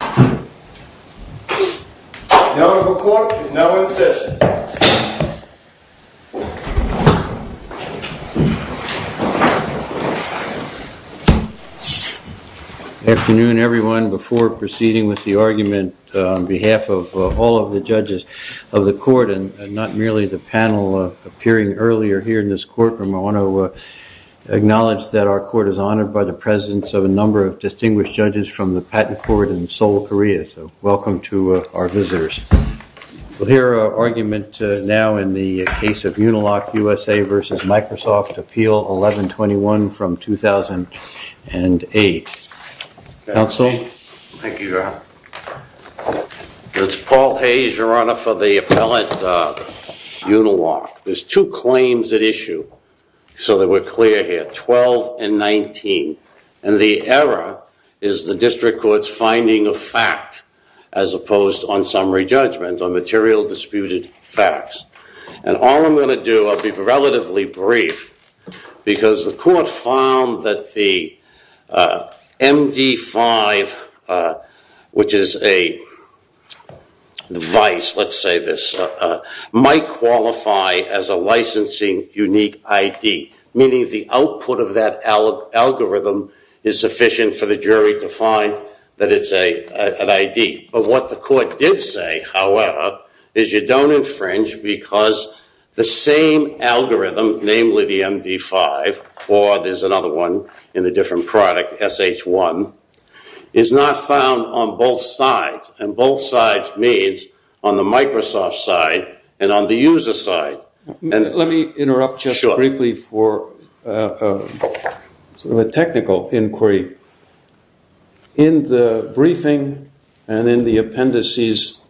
The Honorable Court is now in session. Good afternoon everyone, before proceeding with the argument on behalf of all of the judges of the court and not merely the panel appearing earlier here in this courtroom, I want to acknowledge that our court is honored by the presence of a number of distinguished judges from the patent court in Seoul, Korea, so welcome to our visitors. We'll hear our argument now in the case of Uniloc USA v. Microsoft, Appeal 1121 from 2008. Counsel? Thank you, Your Honor. It's Paul Hayes, Your Honor, for the appellate Uniloc. There's two claims at issue, so that we're clear here, 12 and 19, and the error is the district court's finding of fact as opposed on summary judgment, on material disputed facts. And all I'm going to do, I'll be relatively brief, because the court found that the MD5, which is a device, let's say this, might qualify as a licensing unique ID, meaning the output of that algorithm is sufficient for the jury to find that it's an ID. But what the court did say, however, is you don't infringe because the same algorithm, namely the MD5, or there's another one in a different product, SH1, is not found on both sides, and both sides means on the Microsoft side and on the user side. Let me interrupt just briefly for a technical inquiry. In the briefing and in the appendices,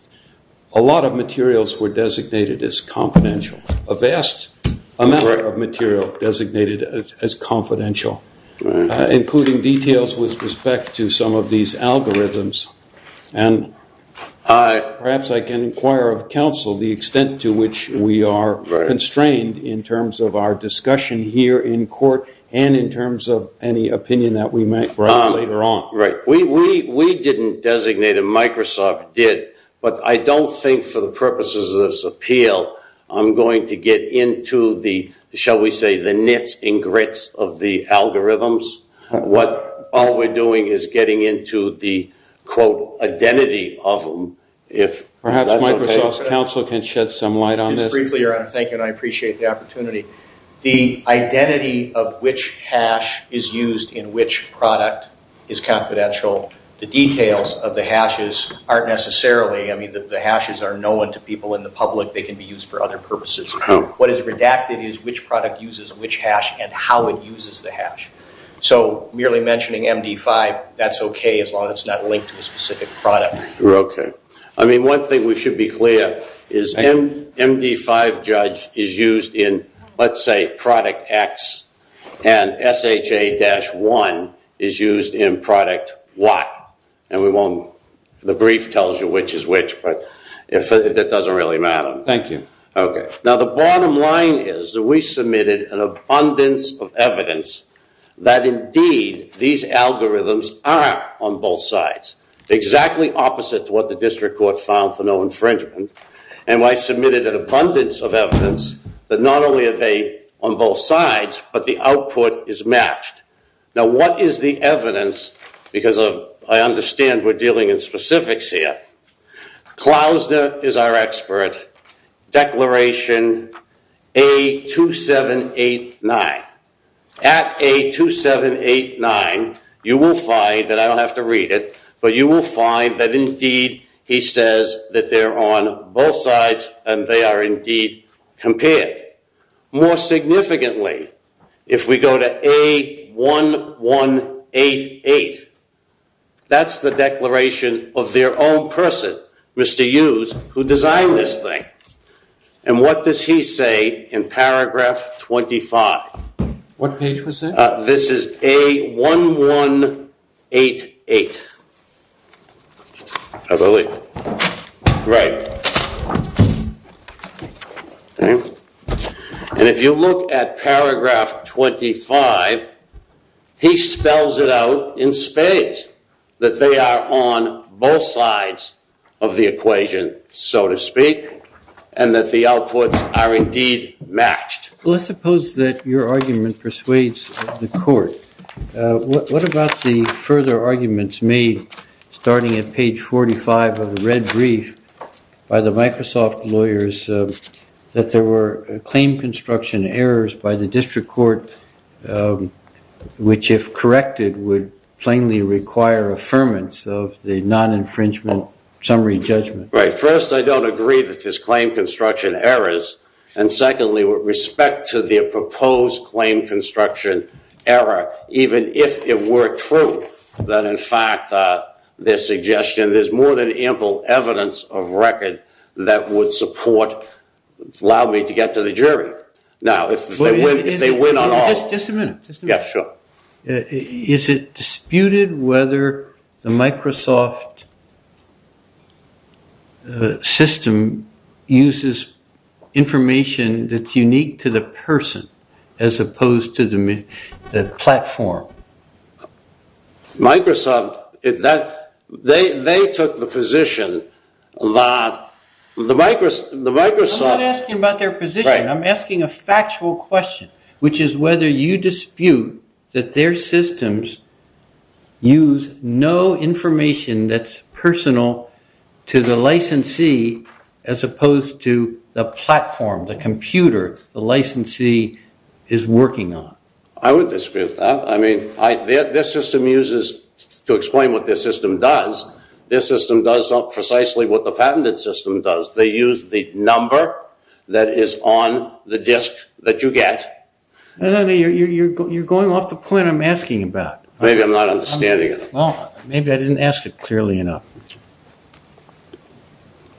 a lot of materials were designated as confidential, a vast amount of material designated as confidential, including details with respect to some of these algorithms. And perhaps I can inquire of counsel the extent to which we are constrained in terms of our discussion here in court and in terms of any opinion that we may have later on. We didn't designate it, Microsoft did, but I don't think for the purposes of this appeal I'm going to get into the, shall we say, the nits and grits of the algorithms. All we're doing is getting into the, quote, identity of them, if that's okay. Perhaps Microsoft's counsel can shed some light on this. Just briefly, Your Honor, thank you and I appreciate the opportunity. The identity of which hash is used in which product is confidential. The details of the hashes aren't necessarily, I mean, the hashes are known to people in other jurisdictions for other purposes. What is redacted is which product uses which hash and how it uses the hash. So merely mentioning MD5, that's okay as long as it's not linked to a specific product. Okay. I mean, one thing we should be clear is MD5, Judge, is used in, let's say, product X and SHA-1 is used in product Y. And we won't, the brief tells you which is which, but that doesn't really matter. Thank you. Okay. Now the bottom line is that we submitted an abundance of evidence that indeed these algorithms are on both sides, exactly opposite to what the district court found for no infringement. And I submitted an abundance of evidence that not only are they on both sides, but the output is matched. Now what is the evidence, because I understand we're dealing in specifics here, Klausner is our expert, declaration A2789. At A2789, you will find that, I don't have to read it, but you will find that indeed he says that they're on both sides and they are indeed compared. More significantly, if we go to A1188, that's the declaration of their own person, Mr. Hughes, who designed this thing. And what does he say in paragraph 25? What page was that? This is A1188, I believe. Right. And if you look at paragraph 25, he spells it out in spades, that they are on both sides of the equation, so to speak, and that the outputs are indeed matched. Well, let's suppose that your argument persuades the court. What about the further arguments made starting at page 45 of the red brief by the Microsoft lawyers that there were claim construction errors by the district court, which if corrected would plainly require affirmance of the non-infringement summary judgment? Right. First, I don't agree that there's claim construction errors. And secondly, with respect to the proposed claim construction error, even if it were true that in fact their suggestion, there's more than ample evidence of record that would support, allow me to get to the jury. Now if they win on all... Just a minute. Yeah, sure. Is it disputed whether the Microsoft system uses information that's unique to the person as opposed to the platform? Microsoft, they took the position that the Microsoft... I'm not asking about their position. I'm asking a factual question, which is whether you dispute that their systems use no information that's personal to the licensee as opposed to the platform, the computer, the licensee is working on. I would dispute that. I mean, their system uses, to explain what their system does, their system does precisely what the patented system does. They use the number that is on the disk that you get. No, no, no. You're going off the point I'm asking about. Maybe I'm not understanding it. Well, maybe I didn't ask it clearly enough.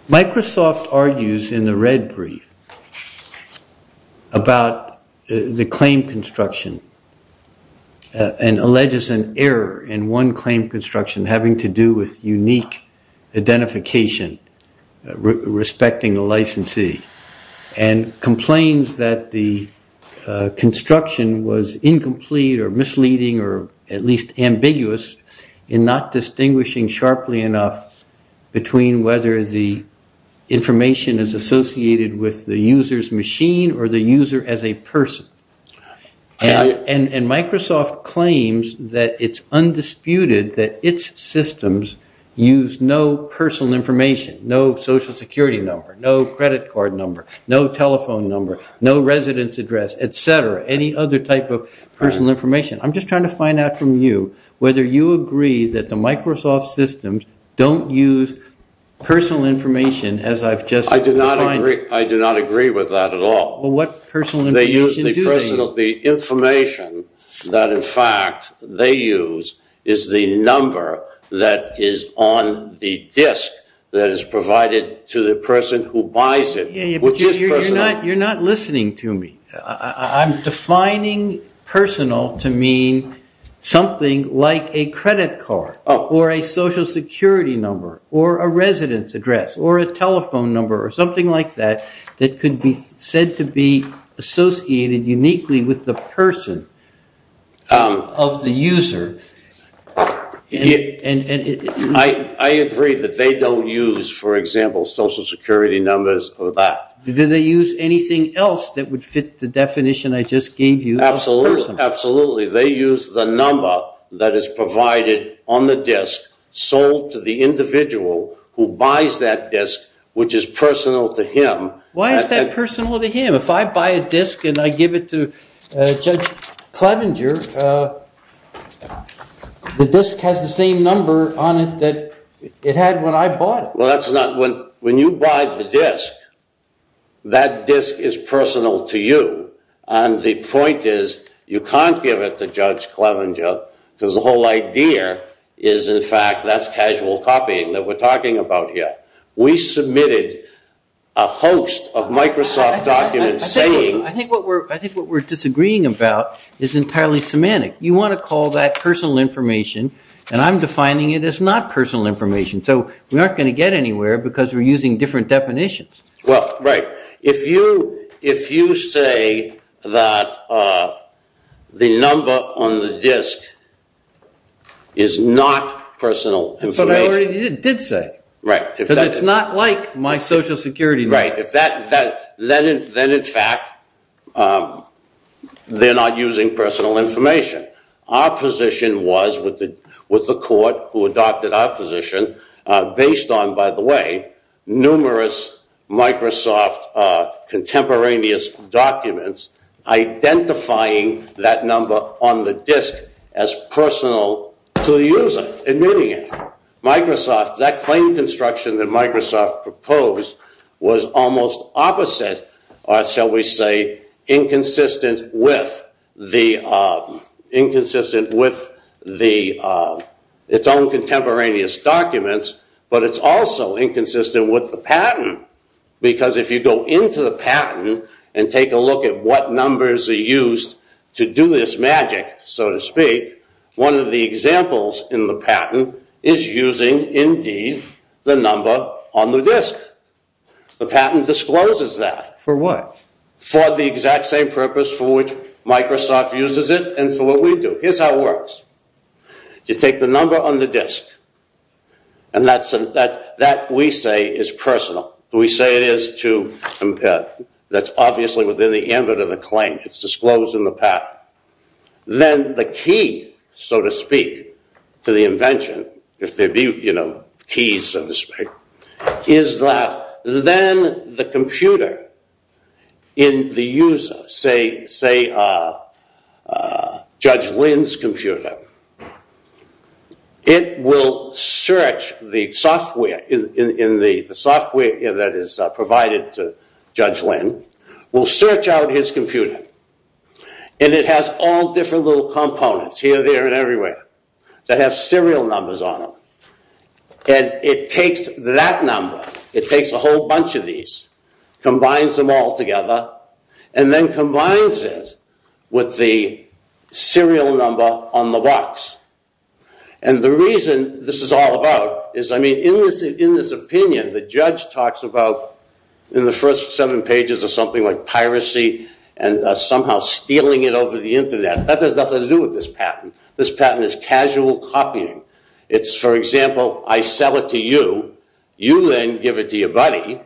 Microsoft argues in the red brief about the claim construction and alleges an error in one claim construction having to do with unique identification respecting the licensee, and complains that the construction was incomplete or misleading or at least ambiguous in not distinguishing sharply enough between whether the information is associated with the user's machine or the user as a person. And Microsoft claims that it's undisputed that its systems use no personal information, no social security number, no credit card number, no telephone number, no residence address, et cetera, any other type of personal information. I'm just trying to find out from you whether you agree that the Microsoft systems don't use personal information as I've just defined it. I do not agree with that at all. What personal information do they use? The information that, in fact, they use is the number that is on the disk that is provided to the person who buys it, which is personal. You're not listening to me. I'm defining personal to mean something like a credit card or a social security number or a residence address or a telephone number or something like that that could be said to be associated uniquely with the person of the user. I agree that they don't use, for example, social security numbers or that. Do they use anything else that would fit the definition I just gave you of personal? Absolutely. They use the number that is provided on the disk sold to the individual who buys that disk, which is personal to him. Why is that personal to him? If I buy a disk and I give it to Judge Clevenger, the disk has the same number on it that it had when I bought it. When you buy the disk, that disk is personal to you. The point is, you can't give it to Judge Clevenger because the whole idea is, in fact, that's casual copying that we're talking about here. We submitted a host of Microsoft documents saying... I think what we're disagreeing about is entirely semantic. You want to call that personal information, and I'm defining it as not personal information. We aren't going to get anywhere because we're using different definitions. Right. If you say that the number on the disk is not personal information... But I already did say. Right. Because it's not like my social security numbers. Right. Then, in fact, they're not using personal information. Our position was, with the court who adopted our position, based on, by the way, numerous Microsoft contemporaneous documents, identifying that number on the disk as personal to the user, admitting it. That claim construction that Microsoft proposed was almost opposite, or shall we say, inconsistent with its own contemporaneous documents, but it's also inconsistent with the pattern. Because if you go into the pattern and take a look at what numbers are used to do this magic, so to speak, one of the examples in the pattern is using, indeed, the number on the disk. The pattern discloses that. For what? For the exact same purpose for which Microsoft uses it and for what we do. Here's how it works. You take the number on the disk, and that, we say, is personal. We say it is to compare. That's obviously within the ambit of the claim. It's disclosed in the pattern. Then, the key, so to speak, to the invention, if there be keys, so to speak, is that then the computer in the user, say, Judge Lin's computer, has a number on it. It will search the software that is provided to Judge Lin, will search out his computer, and it has all different little components here, there, and everywhere that have serial numbers on them. It takes that number, it takes a whole bunch of these, combines them all together, and then combines it with the serial number on the box. The reason this is all about is, I mean, in this opinion, the judge talks about, in the first seven pages, of something like piracy and somehow stealing it over the Internet. That has nothing to do with this pattern. This pattern is casual copying. It's, for example, I sell it to you, you then give it to your buddy,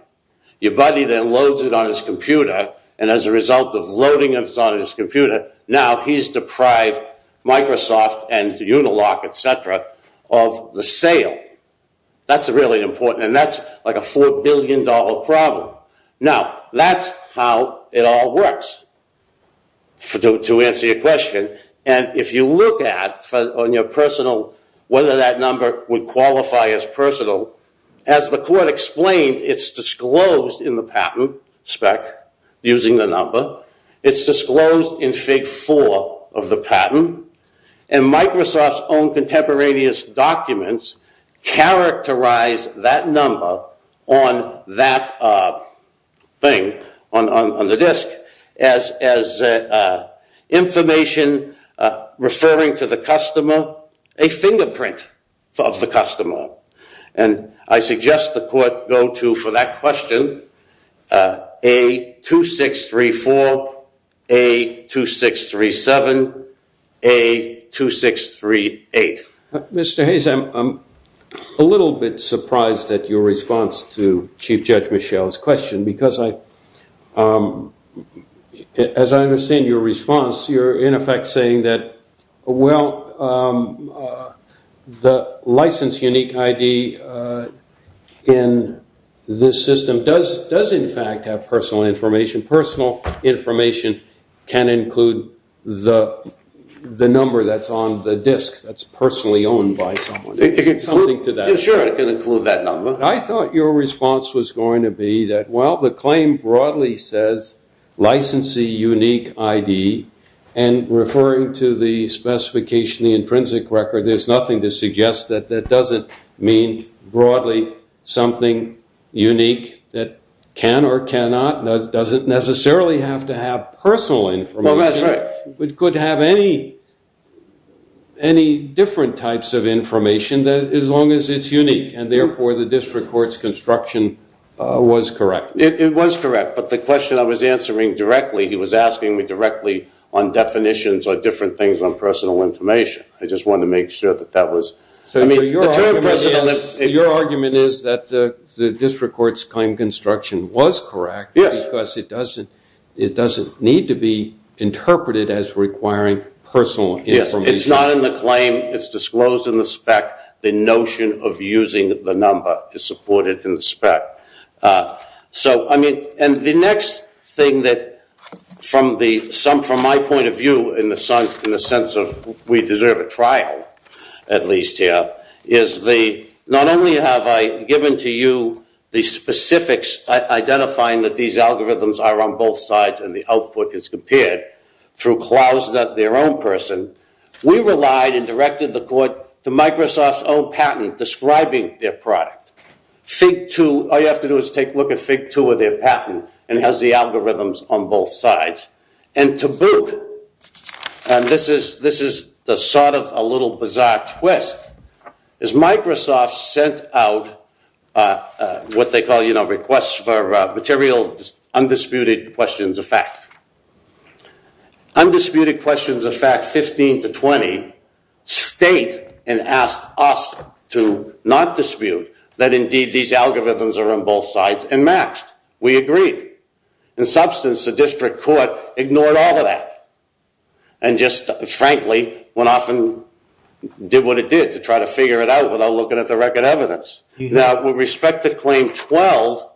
your buddy then loads it on his computer, and as a result of loading it on his computer, now he's deprived Microsoft and Unilock, etc., of the sale. That's really important, and that's like a $4 billion problem. Now, that's how it all works, to answer your question, and if you look at, on your personal, whether that number would qualify as personal, as the court explained, it's disclosed in the patent spec, using the number, it's disclosed in Fig. 4 of the patent, and Microsoft's own contemporaneous documents characterize that number on that thing, on the disk, as information referring to the customer, a fingerprint of the customer. And I suggest the court go to, for that question, A2634, A2637, A2638. Mr. Hayes, I'm a little bit surprised at your response to Chief Judge Michel's question, because I, as I understand your response, you're in effect saying that, well, the license unique ID in this system does, in fact, have personal information. Personal information can include the number that's on the disk, that's personally owned by someone. It can include, yeah, sure, it can include that number. I thought your response was going to be that, well, the claim broadly says, licensee unique ID, and referring to the specification, the intrinsic record, there's nothing to suggest that that doesn't mean, broadly, something unique that can or cannot, doesn't necessarily have to have personal information, but could have any different types of information, as long as it's unique, and therefore, the district court's construction was correct. It was correct, but the question I was answering directly, he was asking me directly on definitions or different things on personal information. I just wanted to make sure that that was... Your argument is that the district court's claim construction was correct, because it doesn't need to be interpreted as requiring personal information. Yes, it's not in the claim, it's disclosed in the spec, the notion of using the number is supported in the spec. The next thing that, from my point of view, in the sense of we deserve a trial, at least here, is not only have I given to you the specifics, identifying that these algorithms are on both sides and the output is compared, through Klausner, their own person, we relied and directed the court to Microsoft's own patent describing their product. All you have to do is take a look at Fig. 2 of their patent, and it has the algorithms on both sides, and to boot, this is the sort of a little bizarre twist, is Microsoft sent out what they call requests for material, undisputed questions of fact. Undisputed questions of fact 15 to 20 state, and asked us to not dispute, that indeed these algorithms are on both sides and matched. We agreed. In substance, the district court ignored all of that, and just frankly went off and did what it did to try to figure it out without looking at the record evidence. Now, with respect to claim 12,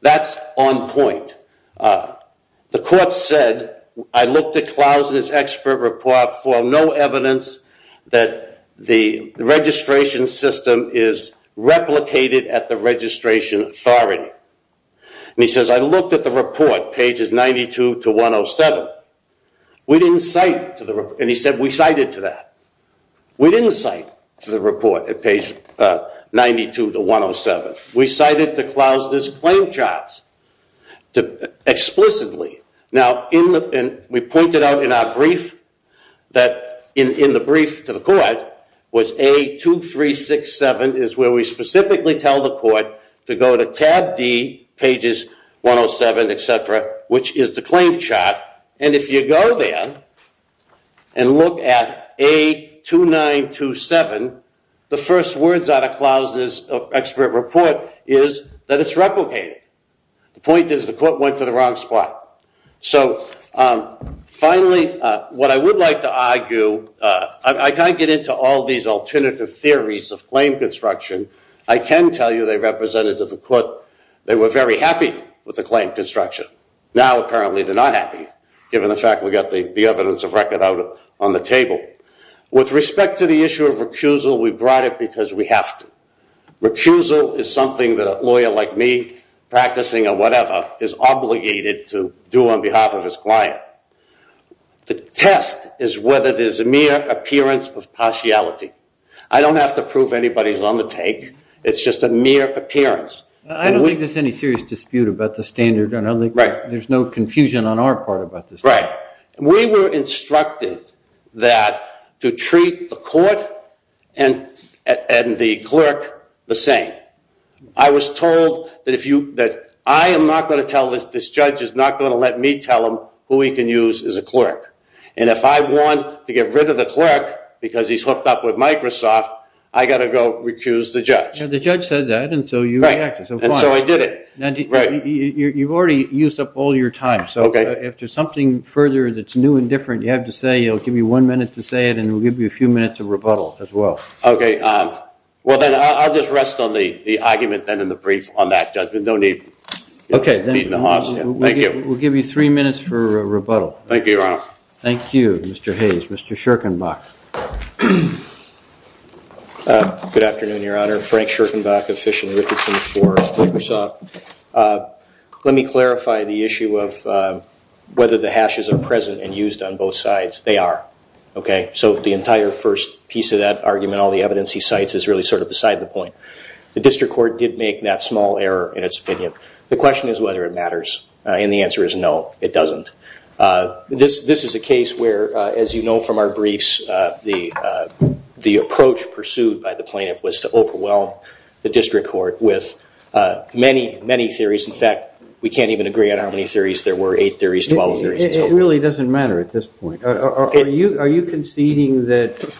that's on point. The court said, I looked at Klausner's expert report for no evidence that the registration system is replicated at the registration authority. And he says, I looked at the report, pages 92 to 107, we didn't cite, and he said we cited to that, we didn't cite to the report at page 92 to 107. We cited to Klausner's claim charts explicitly. Now we pointed out in our brief that in the brief to the court was A2367 is where we specifically tell the court to go to tab D, pages 107, et cetera, which is the claim chart. And if you go there and look at A2927, the first words out of Klausner's expert report is that it's replicated. The point is the court went to the wrong spot. So finally, what I would like to argue, I can't get into all these alternative theories of claim construction. I can tell you they represented to the court, they were very happy with the claim construction. Now apparently they're not happy, given the fact we got the evidence of record out on the table. With respect to the issue of recusal, we brought it because we have to. Recusal is something that a lawyer like me, practicing or whatever, is obligated to do on behalf of his client. The test is whether there's a mere appearance of partiality. I don't have to prove anybody's on the take. It's just a mere appearance. I don't think there's any serious dispute about the standard. There's no confusion on our part about the standard. We were instructed to treat the court and the clerk the same. I was told that I am not going to tell this judge, this judge is not going to let me tell him who he can use as a clerk. If I want to get rid of the clerk because he's hooked up with Microsoft, I got to go recuse the judge. The judge said that and so you reacted. So I did it. You've already used up all your time. So if there's something further that's new and different, you have to say it. I'll give you one minute to say it and we'll give you a few minutes of rebuttal as well. Okay. Well, then I'll just rest on the argument then in the brief on that judgment. No need to beat the horse. Thank you. We'll give you three minutes for rebuttal. Thank you, Your Honor. Thank you, Mr. Hayes. Mr. Schirkenbach. Good afternoon, Your Honor. Frank Schirkenbach of Fish and Richardson for Microsoft. Let me clarify the issue of whether the hashes are present and used on both sides. They are. Okay. So the entire first piece of that argument, all the evidence he cites is really sort of beside the point. The district court did make that small error in its opinion. The question is whether it matters and the answer is no, it doesn't. This is a case where, as you know from our briefs, the approach pursued by the plaintiff was to overwhelm the district court with many, many theories. In fact, we can't even agree on how many theories there were, eight theories, 12 theories. It really doesn't matter at this point. Are you conceding that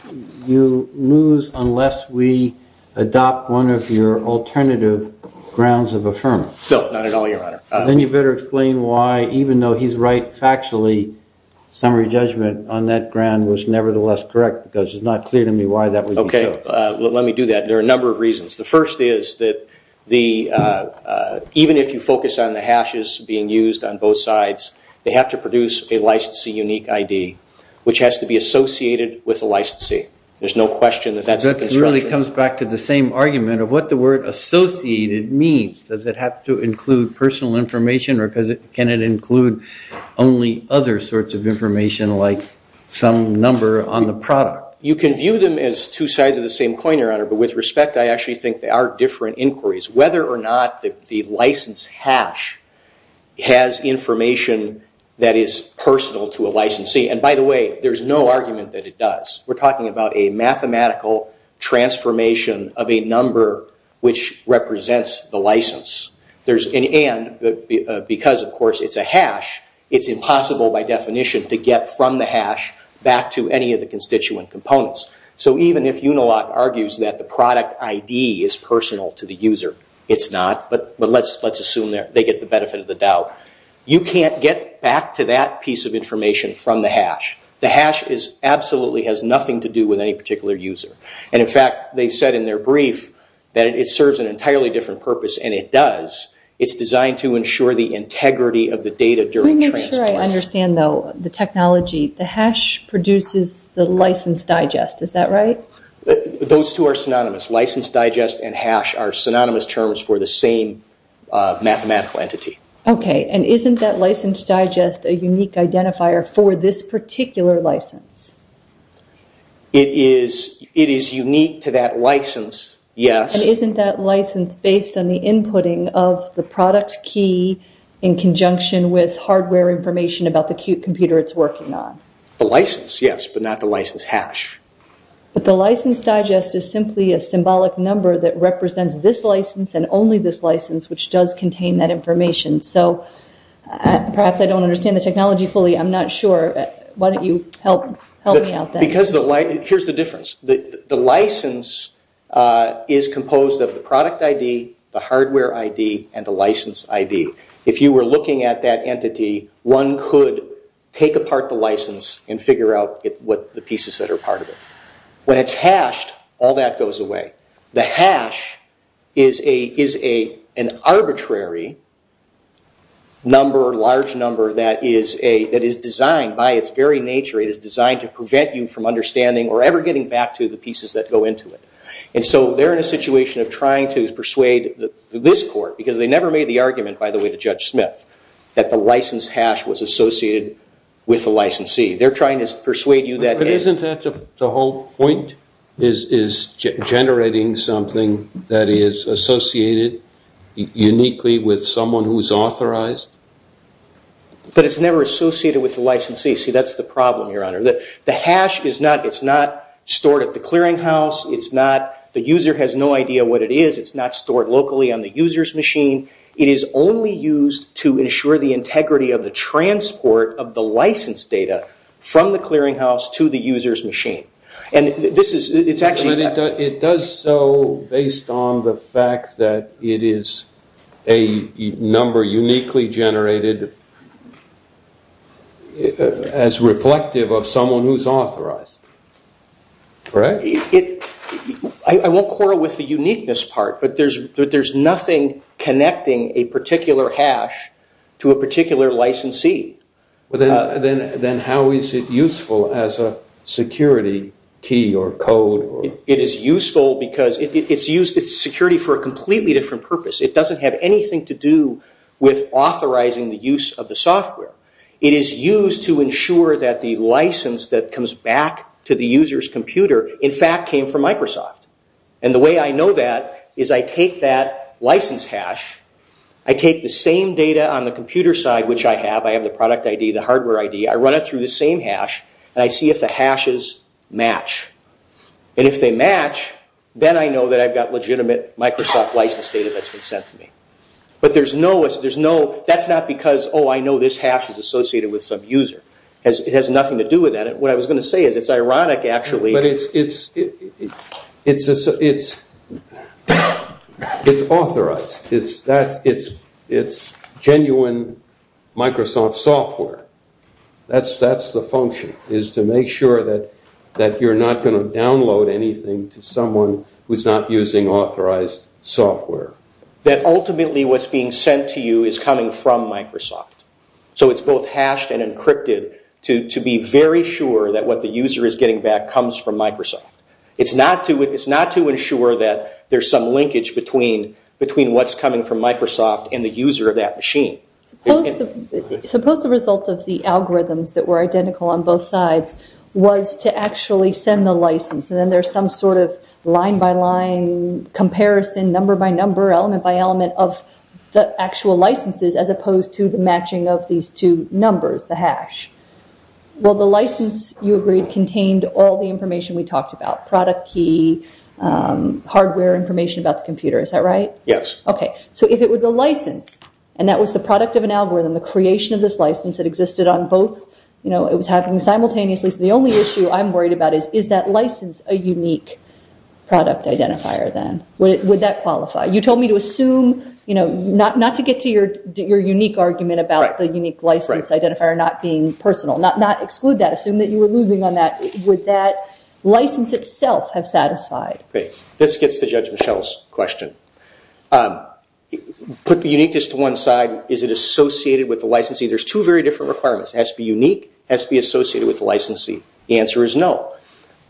you lose unless we adopt one of your alternative grounds of affirmation? No, not at all, Your Honor. Then you better explain why, even though he's right factually, summary judgment on that ground was nevertheless correct because it's not clear to me why that would be so. Okay. Let me do that. There are a number of reasons. The first is that even if you focus on the hashes being used on both sides, they have to produce a licensee unique ID, which has to be associated with the licensee. There's no question that that's the construction. That really comes back to the same argument of what the word associated means. Does it have to include personal information or can it include only other sorts of information like some number on the product? You can view them as two sides of the same coin, Your Honor, but with respect, I actually think they are different inquiries. Whether or not the license hash has information that is personal to a licensee, and by the way, there's no argument that it does. We're talking about a mathematical transformation of a number which represents the license. Because of course it's a hash, it's impossible by definition to get from the hash back to any of the constituent components. Even if Unilock argues that the product ID is personal to the user, it's not, but let's assume they get the benefit of the doubt. You can't get back to that piece of information from the hash. The hash absolutely has nothing to do with any particular user. In fact, they said in their brief that it serves an entirely different purpose, and it does. It's designed to ensure the integrity of the data during transport. I'm not sure I understand, though, the technology. The hash produces the license digest, is that right? Those two are synonymous. License digest and hash are synonymous terms for the same mathematical entity. Okay, and isn't that license digest a unique identifier for this particular license? It is unique to that license, yes. Isn't that license based on the inputting of the product key in conjunction with hardware information about the Qt computer it's working on? The license, yes, but not the license hash. But the license digest is simply a symbolic number that represents this license and only this license, which does contain that information. So perhaps I don't understand the technology fully. I'm not sure. Why don't you help me out there? Here's the difference. The license is composed of the product ID, the hardware ID, and the license ID. If you were looking at that entity, one could take apart the license and figure out what the pieces that are part of it. When it's hashed, all that goes away. The hash is an arbitrary number, large number, that is designed by its very nature. It is designed to prevent you from understanding or ever getting back to the pieces that go into it. And so they're in a situation of trying to persuade this court, because they never made the argument, by the way, to Judge Smith, that the license hash was associated with the licensee. They're trying to persuade you that it is. But isn't that the whole point, is generating something that is associated uniquely with someone who's authorized? But it's never associated with the licensee. See, that's the problem, Your Honor. The hash is not stored at the clearinghouse. The user has no idea what it is. It's not stored locally on the user's machine. It is only used to ensure the integrity of the transport of the license data from the clearinghouse to the user's machine. And this is, it's actually... It does so based on the fact that it is a number uniquely generated as reflective of someone who's authorized, right? I won't quarrel with the uniqueness part, but there's nothing connecting a particular hash to a particular licensee. Then how is it useful as a security key or code? It is useful because it's used as security for a completely different purpose. It doesn't have anything to do with authorizing the use of the software. It is used to ensure that the license that comes back to the user's computer, in fact, came from Microsoft. And the way I know that is I take that license hash, I take the same data on the computer side, which I have, I have the product ID, the hardware ID, I run it through the same hash, and I see if the hashes match. And if they match, then I know that I've got legitimate Microsoft license data that's been sent to me. But there's no... That's not because, oh, I know this hash is associated with some user. It has nothing to do with that. What I was going to say is it's ironic, actually... But it's authorized. It's genuine Microsoft software. That's the function, is to make sure that you're not going to download anything to someone who's not using authorized software. That ultimately what's being sent to you is coming from Microsoft. So it's both hashed and encrypted to be very sure that what the user is getting back comes from Microsoft. It's not to ensure that there's some linkage between what's coming from Microsoft and the user of that machine. Suppose the result of the algorithms that were identical on both sides was to actually send the license, and then there's some sort of line-by-line comparison, number-by-number, element-by-element of the actual licenses as opposed to the matching of these two numbers, the hash. Well, the license, you agreed, contained all the information we talked about, product key, hardware information about the computer. Is that right? Yes. Okay. So if it were the license, and that was the product of an algorithm, the creation of this license that existed on both... You know, it was happening simultaneously. The only issue I'm worried about is, is that license a unique product identifier then? Would that qualify? You told me to assume, you know, not to get to your unique argument about the unique license identifier not being personal, not exclude that, assume that you were losing on that. Would that license itself have satisfied? Okay. This gets to Judge Michelle's question. Put the uniqueness to one side. Is it associated with the licensing? There's two very different requirements. It has to be unique, has to be associated with the licensing. The answer is no.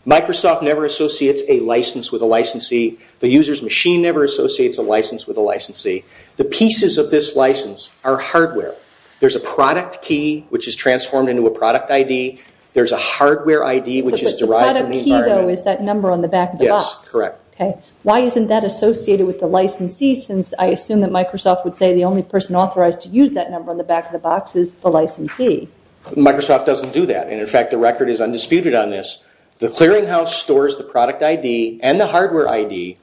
Microsoft never associates a license with a licensee. The user's machine never associates a license with a licensee. The pieces of this license are hardware. There's a product key, which is transformed into a product ID. There's a hardware ID, which is derived from the environment. But the product key, though, is that number on the back of the box. Yes, correct. Okay. Why isn't that associated with the licensee, since I assume that Microsoft would say the only person authorized to use that number on the back of the box is the licensee? Microsoft doesn't do that. And in fact, the record is undisputed on this. The clearinghouse stores the product ID and the hardware ID,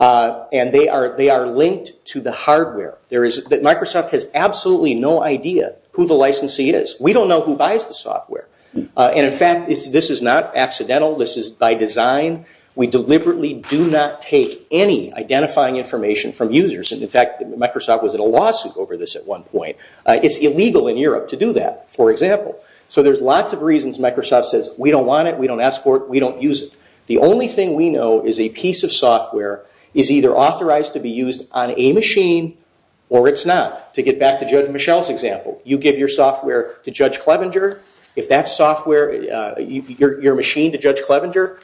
and they are linked to the hardware. Microsoft has absolutely no idea who the licensee is. We don't know who buys the software. And in fact, this is not accidental. This is by design. We deliberately do not take any identifying information from users. In fact, Microsoft was in a lawsuit over this at one point. It's illegal in Europe to do that, for example. So there's lots of reasons Microsoft says, we don't want it, we don't ask for it, we don't use it. The only thing we know is a piece of software is either authorized to be used on a machine or it's not. To get back to Judge Michel's example, you give your software to Judge Clevenger. If that software, your machine to Judge Clevenger,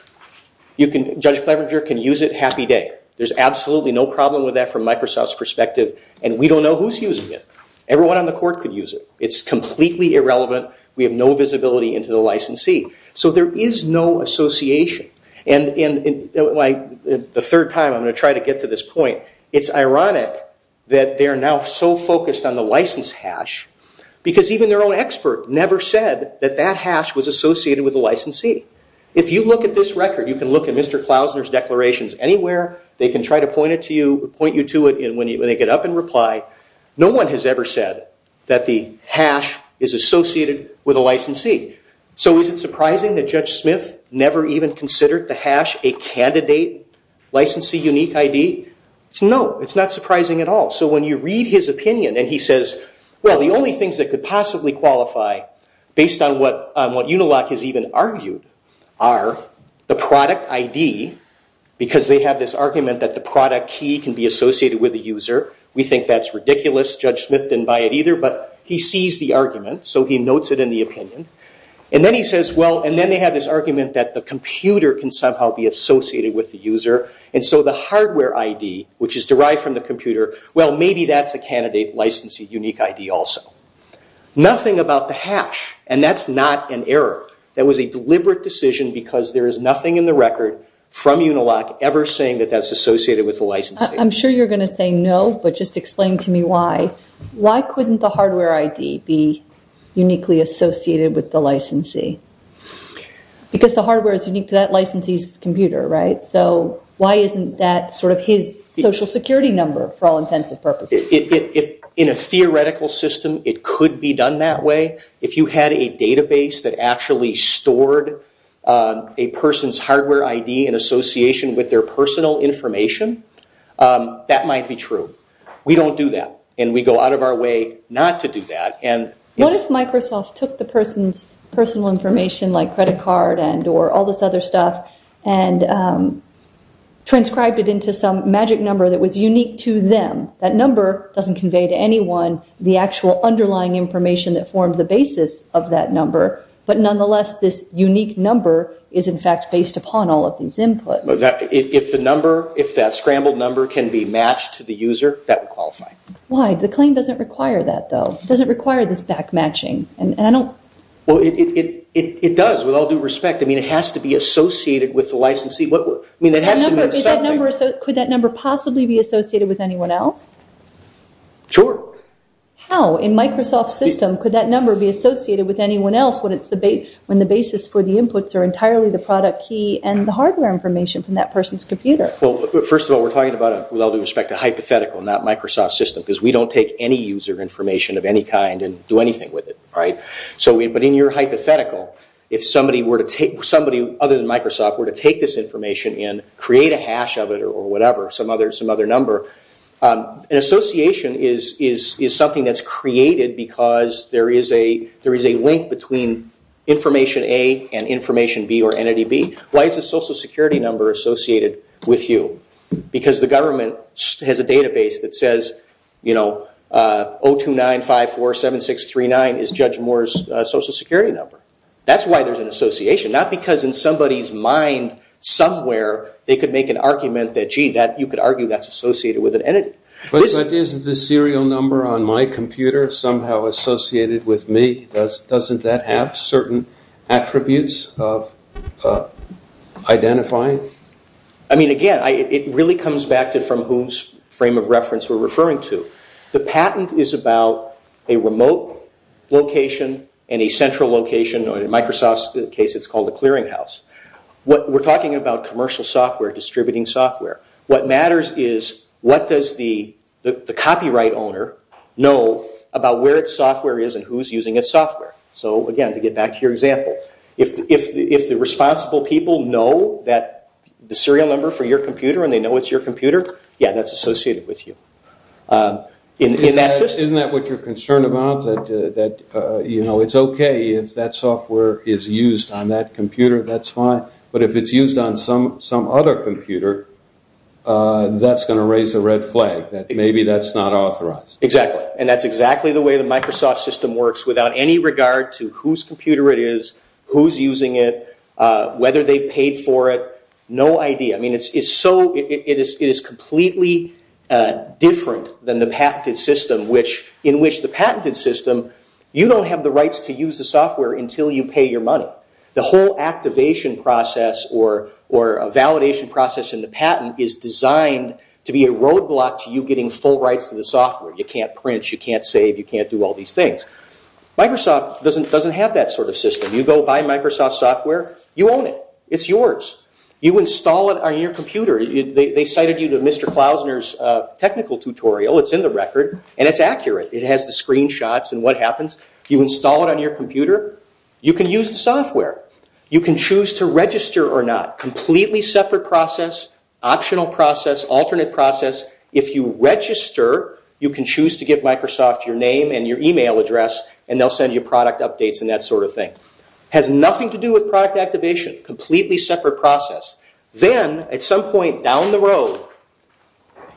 Judge Clevenger can use it, happy day. There's absolutely no problem with that from Microsoft's perspective, and we don't know who's using it. Everyone on the court could use it. It's completely irrelevant. We have no visibility into the licensee. So there is no association. The third time, I'm going to try to get to this point. It's ironic that they are now so focused on the license hash because even their own expert never said that that hash was associated with the licensee. If you look at this record, you can look at Mr. Klausner's declarations anywhere. They can try to point you to it, and when they get up and reply, no one has ever said that the hash is associated with a licensee. So is it surprising that Judge Smith never even considered the hash a candidate licensee unique ID? No, it's not surprising at all. So when you read his opinion and he says, well, the only things that could possibly qualify based on what Unilock has even argued are the product ID, because they have this argument that the product key can be associated with the user. We think that's ridiculous. Judge Smith didn't buy it either, but he sees the argument, so he notes it in the opinion. And then he says, well, and then they have this argument that the computer can somehow be associated with the user. And so the hardware ID, which is derived from the computer, well, maybe that's a candidate licensee unique ID also. Nothing about the hash, and that's not an error. That was a deliberate decision because there is nothing in the record from Unilock ever saying that that's associated with the licensee. I'm sure you're going to say no, but just explain to me why. Why couldn't the hardware ID be uniquely associated with the licensee? Because the hardware is unique to that licensee's computer, right? So why isn't that sort of his social security number for all intents and purposes? In a theoretical system, it could be done that way. If you had a database that actually stored a person's hardware ID in association with their personal information, that might be true. We don't do that, and we go out of our way not to do that. What if Microsoft took the person's personal information, like credit card or all this other stuff, and transcribed it into some magic number that was unique to them? That number doesn't convey to anyone the actual underlying information that formed the basis of that number, but nonetheless, this unique number is, in fact, based upon all of these inputs. If the number, if that scrambled number can be matched to the user, that would qualify. Why? The claim doesn't require that, though. It doesn't require this back-matching, and I don't... It does, with all due respect. I mean, it has to be associated with the licensee. I mean, it has to mean something. Could that number possibly be associated with anyone else? Sure. How? In Microsoft's system, could that number be associated with anyone else when the basis for the inputs are entirely the product key and the hardware information from that person's computer? Well, first of all, we're talking about, with all due respect, a hypothetical, not Microsoft's system, because we don't take any user information of any kind and do anything with it. But in your hypothetical, if somebody other than Microsoft were to take this information in, create a hash of it or whatever, some other number, an association is something that's created because there is a link between information A and information B or entity B. Why is the social security number associated with you? Because the government has a database that says, you know, 029547639 is Judge Moore's social security number. That's why there's an association, not because in somebody's mind somewhere they could make an argument that, gee, you could argue that's associated with an entity. But isn't the serial number on my computer somehow associated with me? Doesn't that have certain attributes of identifying? I mean, again, it really comes back to from whose frame of reference we're referring to. The patent is about a remote location and a central location, or in Microsoft's case it's called a clearinghouse. We're talking about commercial software, distributing software. What matters is what does the copyright owner know about where its software is and who's using its software. So, again, to get back to your example, if the responsible people know that the serial number for your computer and they know it's your computer, yeah, that's associated with you. Isn't that what you're concerned about, that, you know, it's okay if that software is used on that computer, that's fine. But if it's used on some other computer, that's going to raise a red flag that maybe that's not authorized. Exactly. And that's exactly the way the Microsoft system works without any regard to whose computer it is, who's using it, whether they've paid for it, no idea. I mean, it is completely different than the patented system, in which the patented system, you don't have the rights to use the software until you pay your money. The whole activation process or validation process in the patent is designed to be a roadblock to you getting full rights to the software. You can't print, you can't save, you can't do all these things. Microsoft doesn't have that sort of system. You go buy Microsoft software, you own it. It's yours. You install it on your computer. They cited you to Mr. Klausner's technical tutorial, it's in the record, and it's accurate. It has the screenshots and what happens. You install it on your computer. You can use the software. You can choose to register or not. Completely separate process, optional process, alternate process. If you register, you can choose to give Microsoft your name and your email address and they'll send you product updates and that sort of thing. Has nothing to do with product activation. Completely separate process. Then at some point down the road,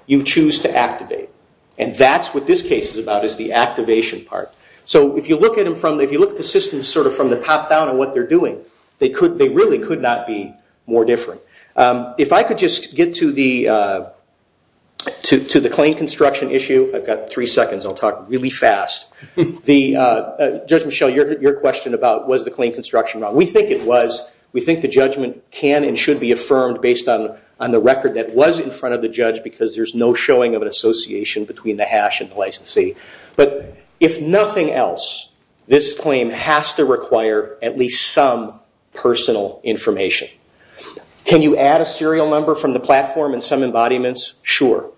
you choose to activate. And that's what this case is about, is the activation part. So if you look at the system sort of from the top down and what they're doing, they really could not be more different. If I could just get to the claim construction issue. I've got three seconds. I'll talk really fast. Judge Michelle, your question about was the claim construction wrong. We think it was. We think the judgment can and should be affirmed based on the record that was in front of the judge because there's no showing of an association between the hash and the licensee. But if nothing else, this claim has to require at least some personal information. Can you add a serial number from the platform and some embodiments? Sure.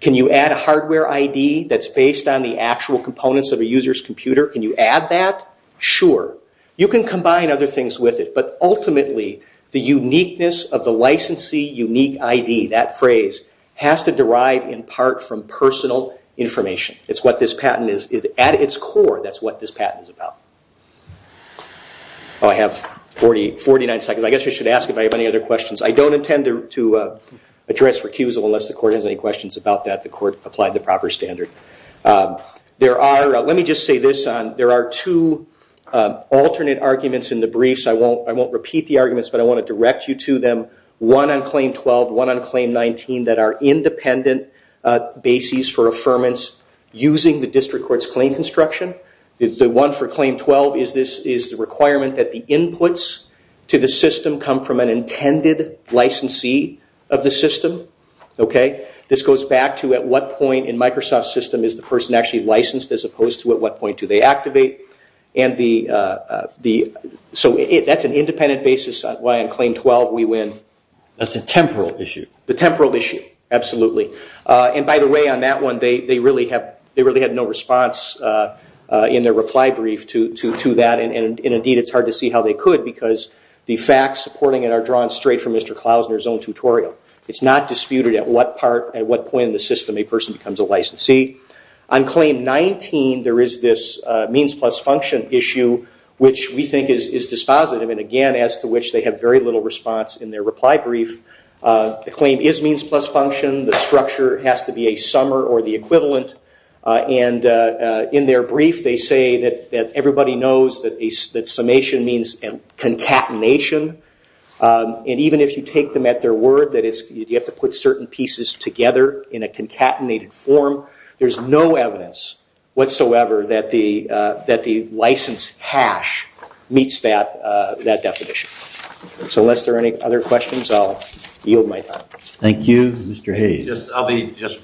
Can you add a hardware ID that's based on the actual components of a user's computer? Can you add that? Sure. You can combine other things with it. But ultimately, the uniqueness of the licensee unique ID, that phrase, has to derive in part from personal information. It's what this patent is. At its core, that's what this patent is about. Oh, I have 49 seconds. I guess I should ask if I have any other questions. I don't intend to address recusal unless the court has any questions about that. The court applied the proper standard. Let me just say this. There are two alternate arguments in the briefs. I won't repeat the arguments, but I want to direct you to them. One on Claim 12. One on Claim 19 that are independent bases for affirmance using the district court's claim construction. The one for Claim 12 is the requirement that the inputs to the system come from an intended licensee of the system. This goes back to at what point in Microsoft's system is the person actually licensed as opposed to at what point do they? And so that's an independent basis on why on Claim 12 we win. That's a temporal issue. The temporal issue. Absolutely. And by the way, on that one, they really had no response in their reply brief to that. And indeed, it's hard to see how they could because the facts supporting it are drawn straight from Mr. Klausner's own tutorial. It's not disputed at what point in the system a person becomes a licensee. On Claim 19, there is this means plus function issue, which we think is dispositive. And again, as to which they have very little response in their reply brief. The claim is means plus function. The structure has to be a summer or the equivalent. And in their brief, they say that everybody knows that summation means concatenation. And even if you take them at their word that you have to put certain pieces together in concatenated form, there's no evidence whatsoever that the license hash meets that definition. So unless there are any other questions, I'll yield my time. Thank you. Mr. Hayes.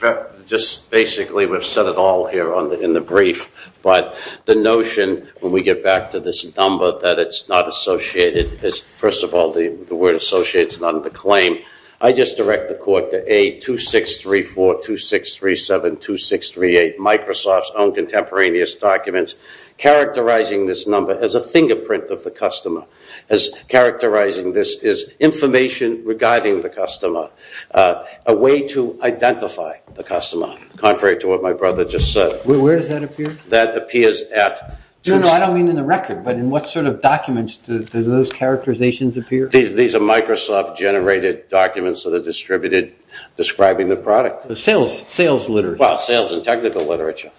Just basically, we've said it all here in the brief. But the notion when we get back to this number that it's not associated. First of all, the word associate is not in the claim. I just direct the court to A2634, 2637, 2638, Microsoft's own contemporaneous documents, characterizing this number as a fingerprint of the customer. As characterizing this is information regarding the customer. A way to identify the customer, contrary to what my brother just said. Where does that appear? That appears at. No, no, I don't mean in the record. But in what sort of documents do those characterizations appear? These are Microsoft-generated documents that are distributed describing the product. Sales literature. Well, sales and technical literature.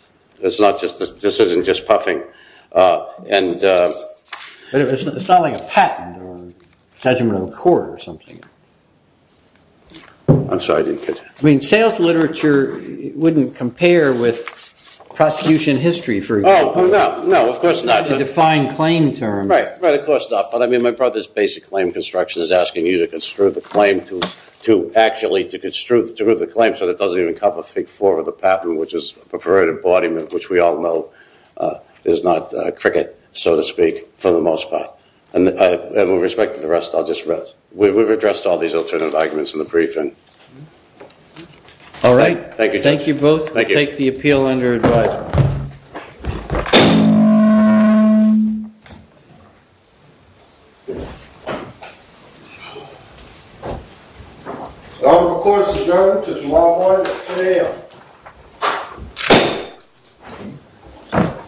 This isn't just puffing. It's not like a patent or a judgment on the court or something. I'm sorry, I didn't catch that. I mean, sales literature wouldn't compare with prosecution history, for example. Oh, no, no, of course not. The defined claim term. Right, right, of course not. My brother's basic claim construction is asking you to construe the claim to actually to construe the claim so that it doesn't even cover Fig 4 of the patent, which is a perverted embodiment, which we all know is not cricket, so to speak, for the most part. And with respect to the rest, I'll just rest. We've addressed all these alternative arguments in the briefing. All right. Thank you. Thank you both. Thank you. We'll take the appeal under advice. Yeah. Oh, of course, you don't.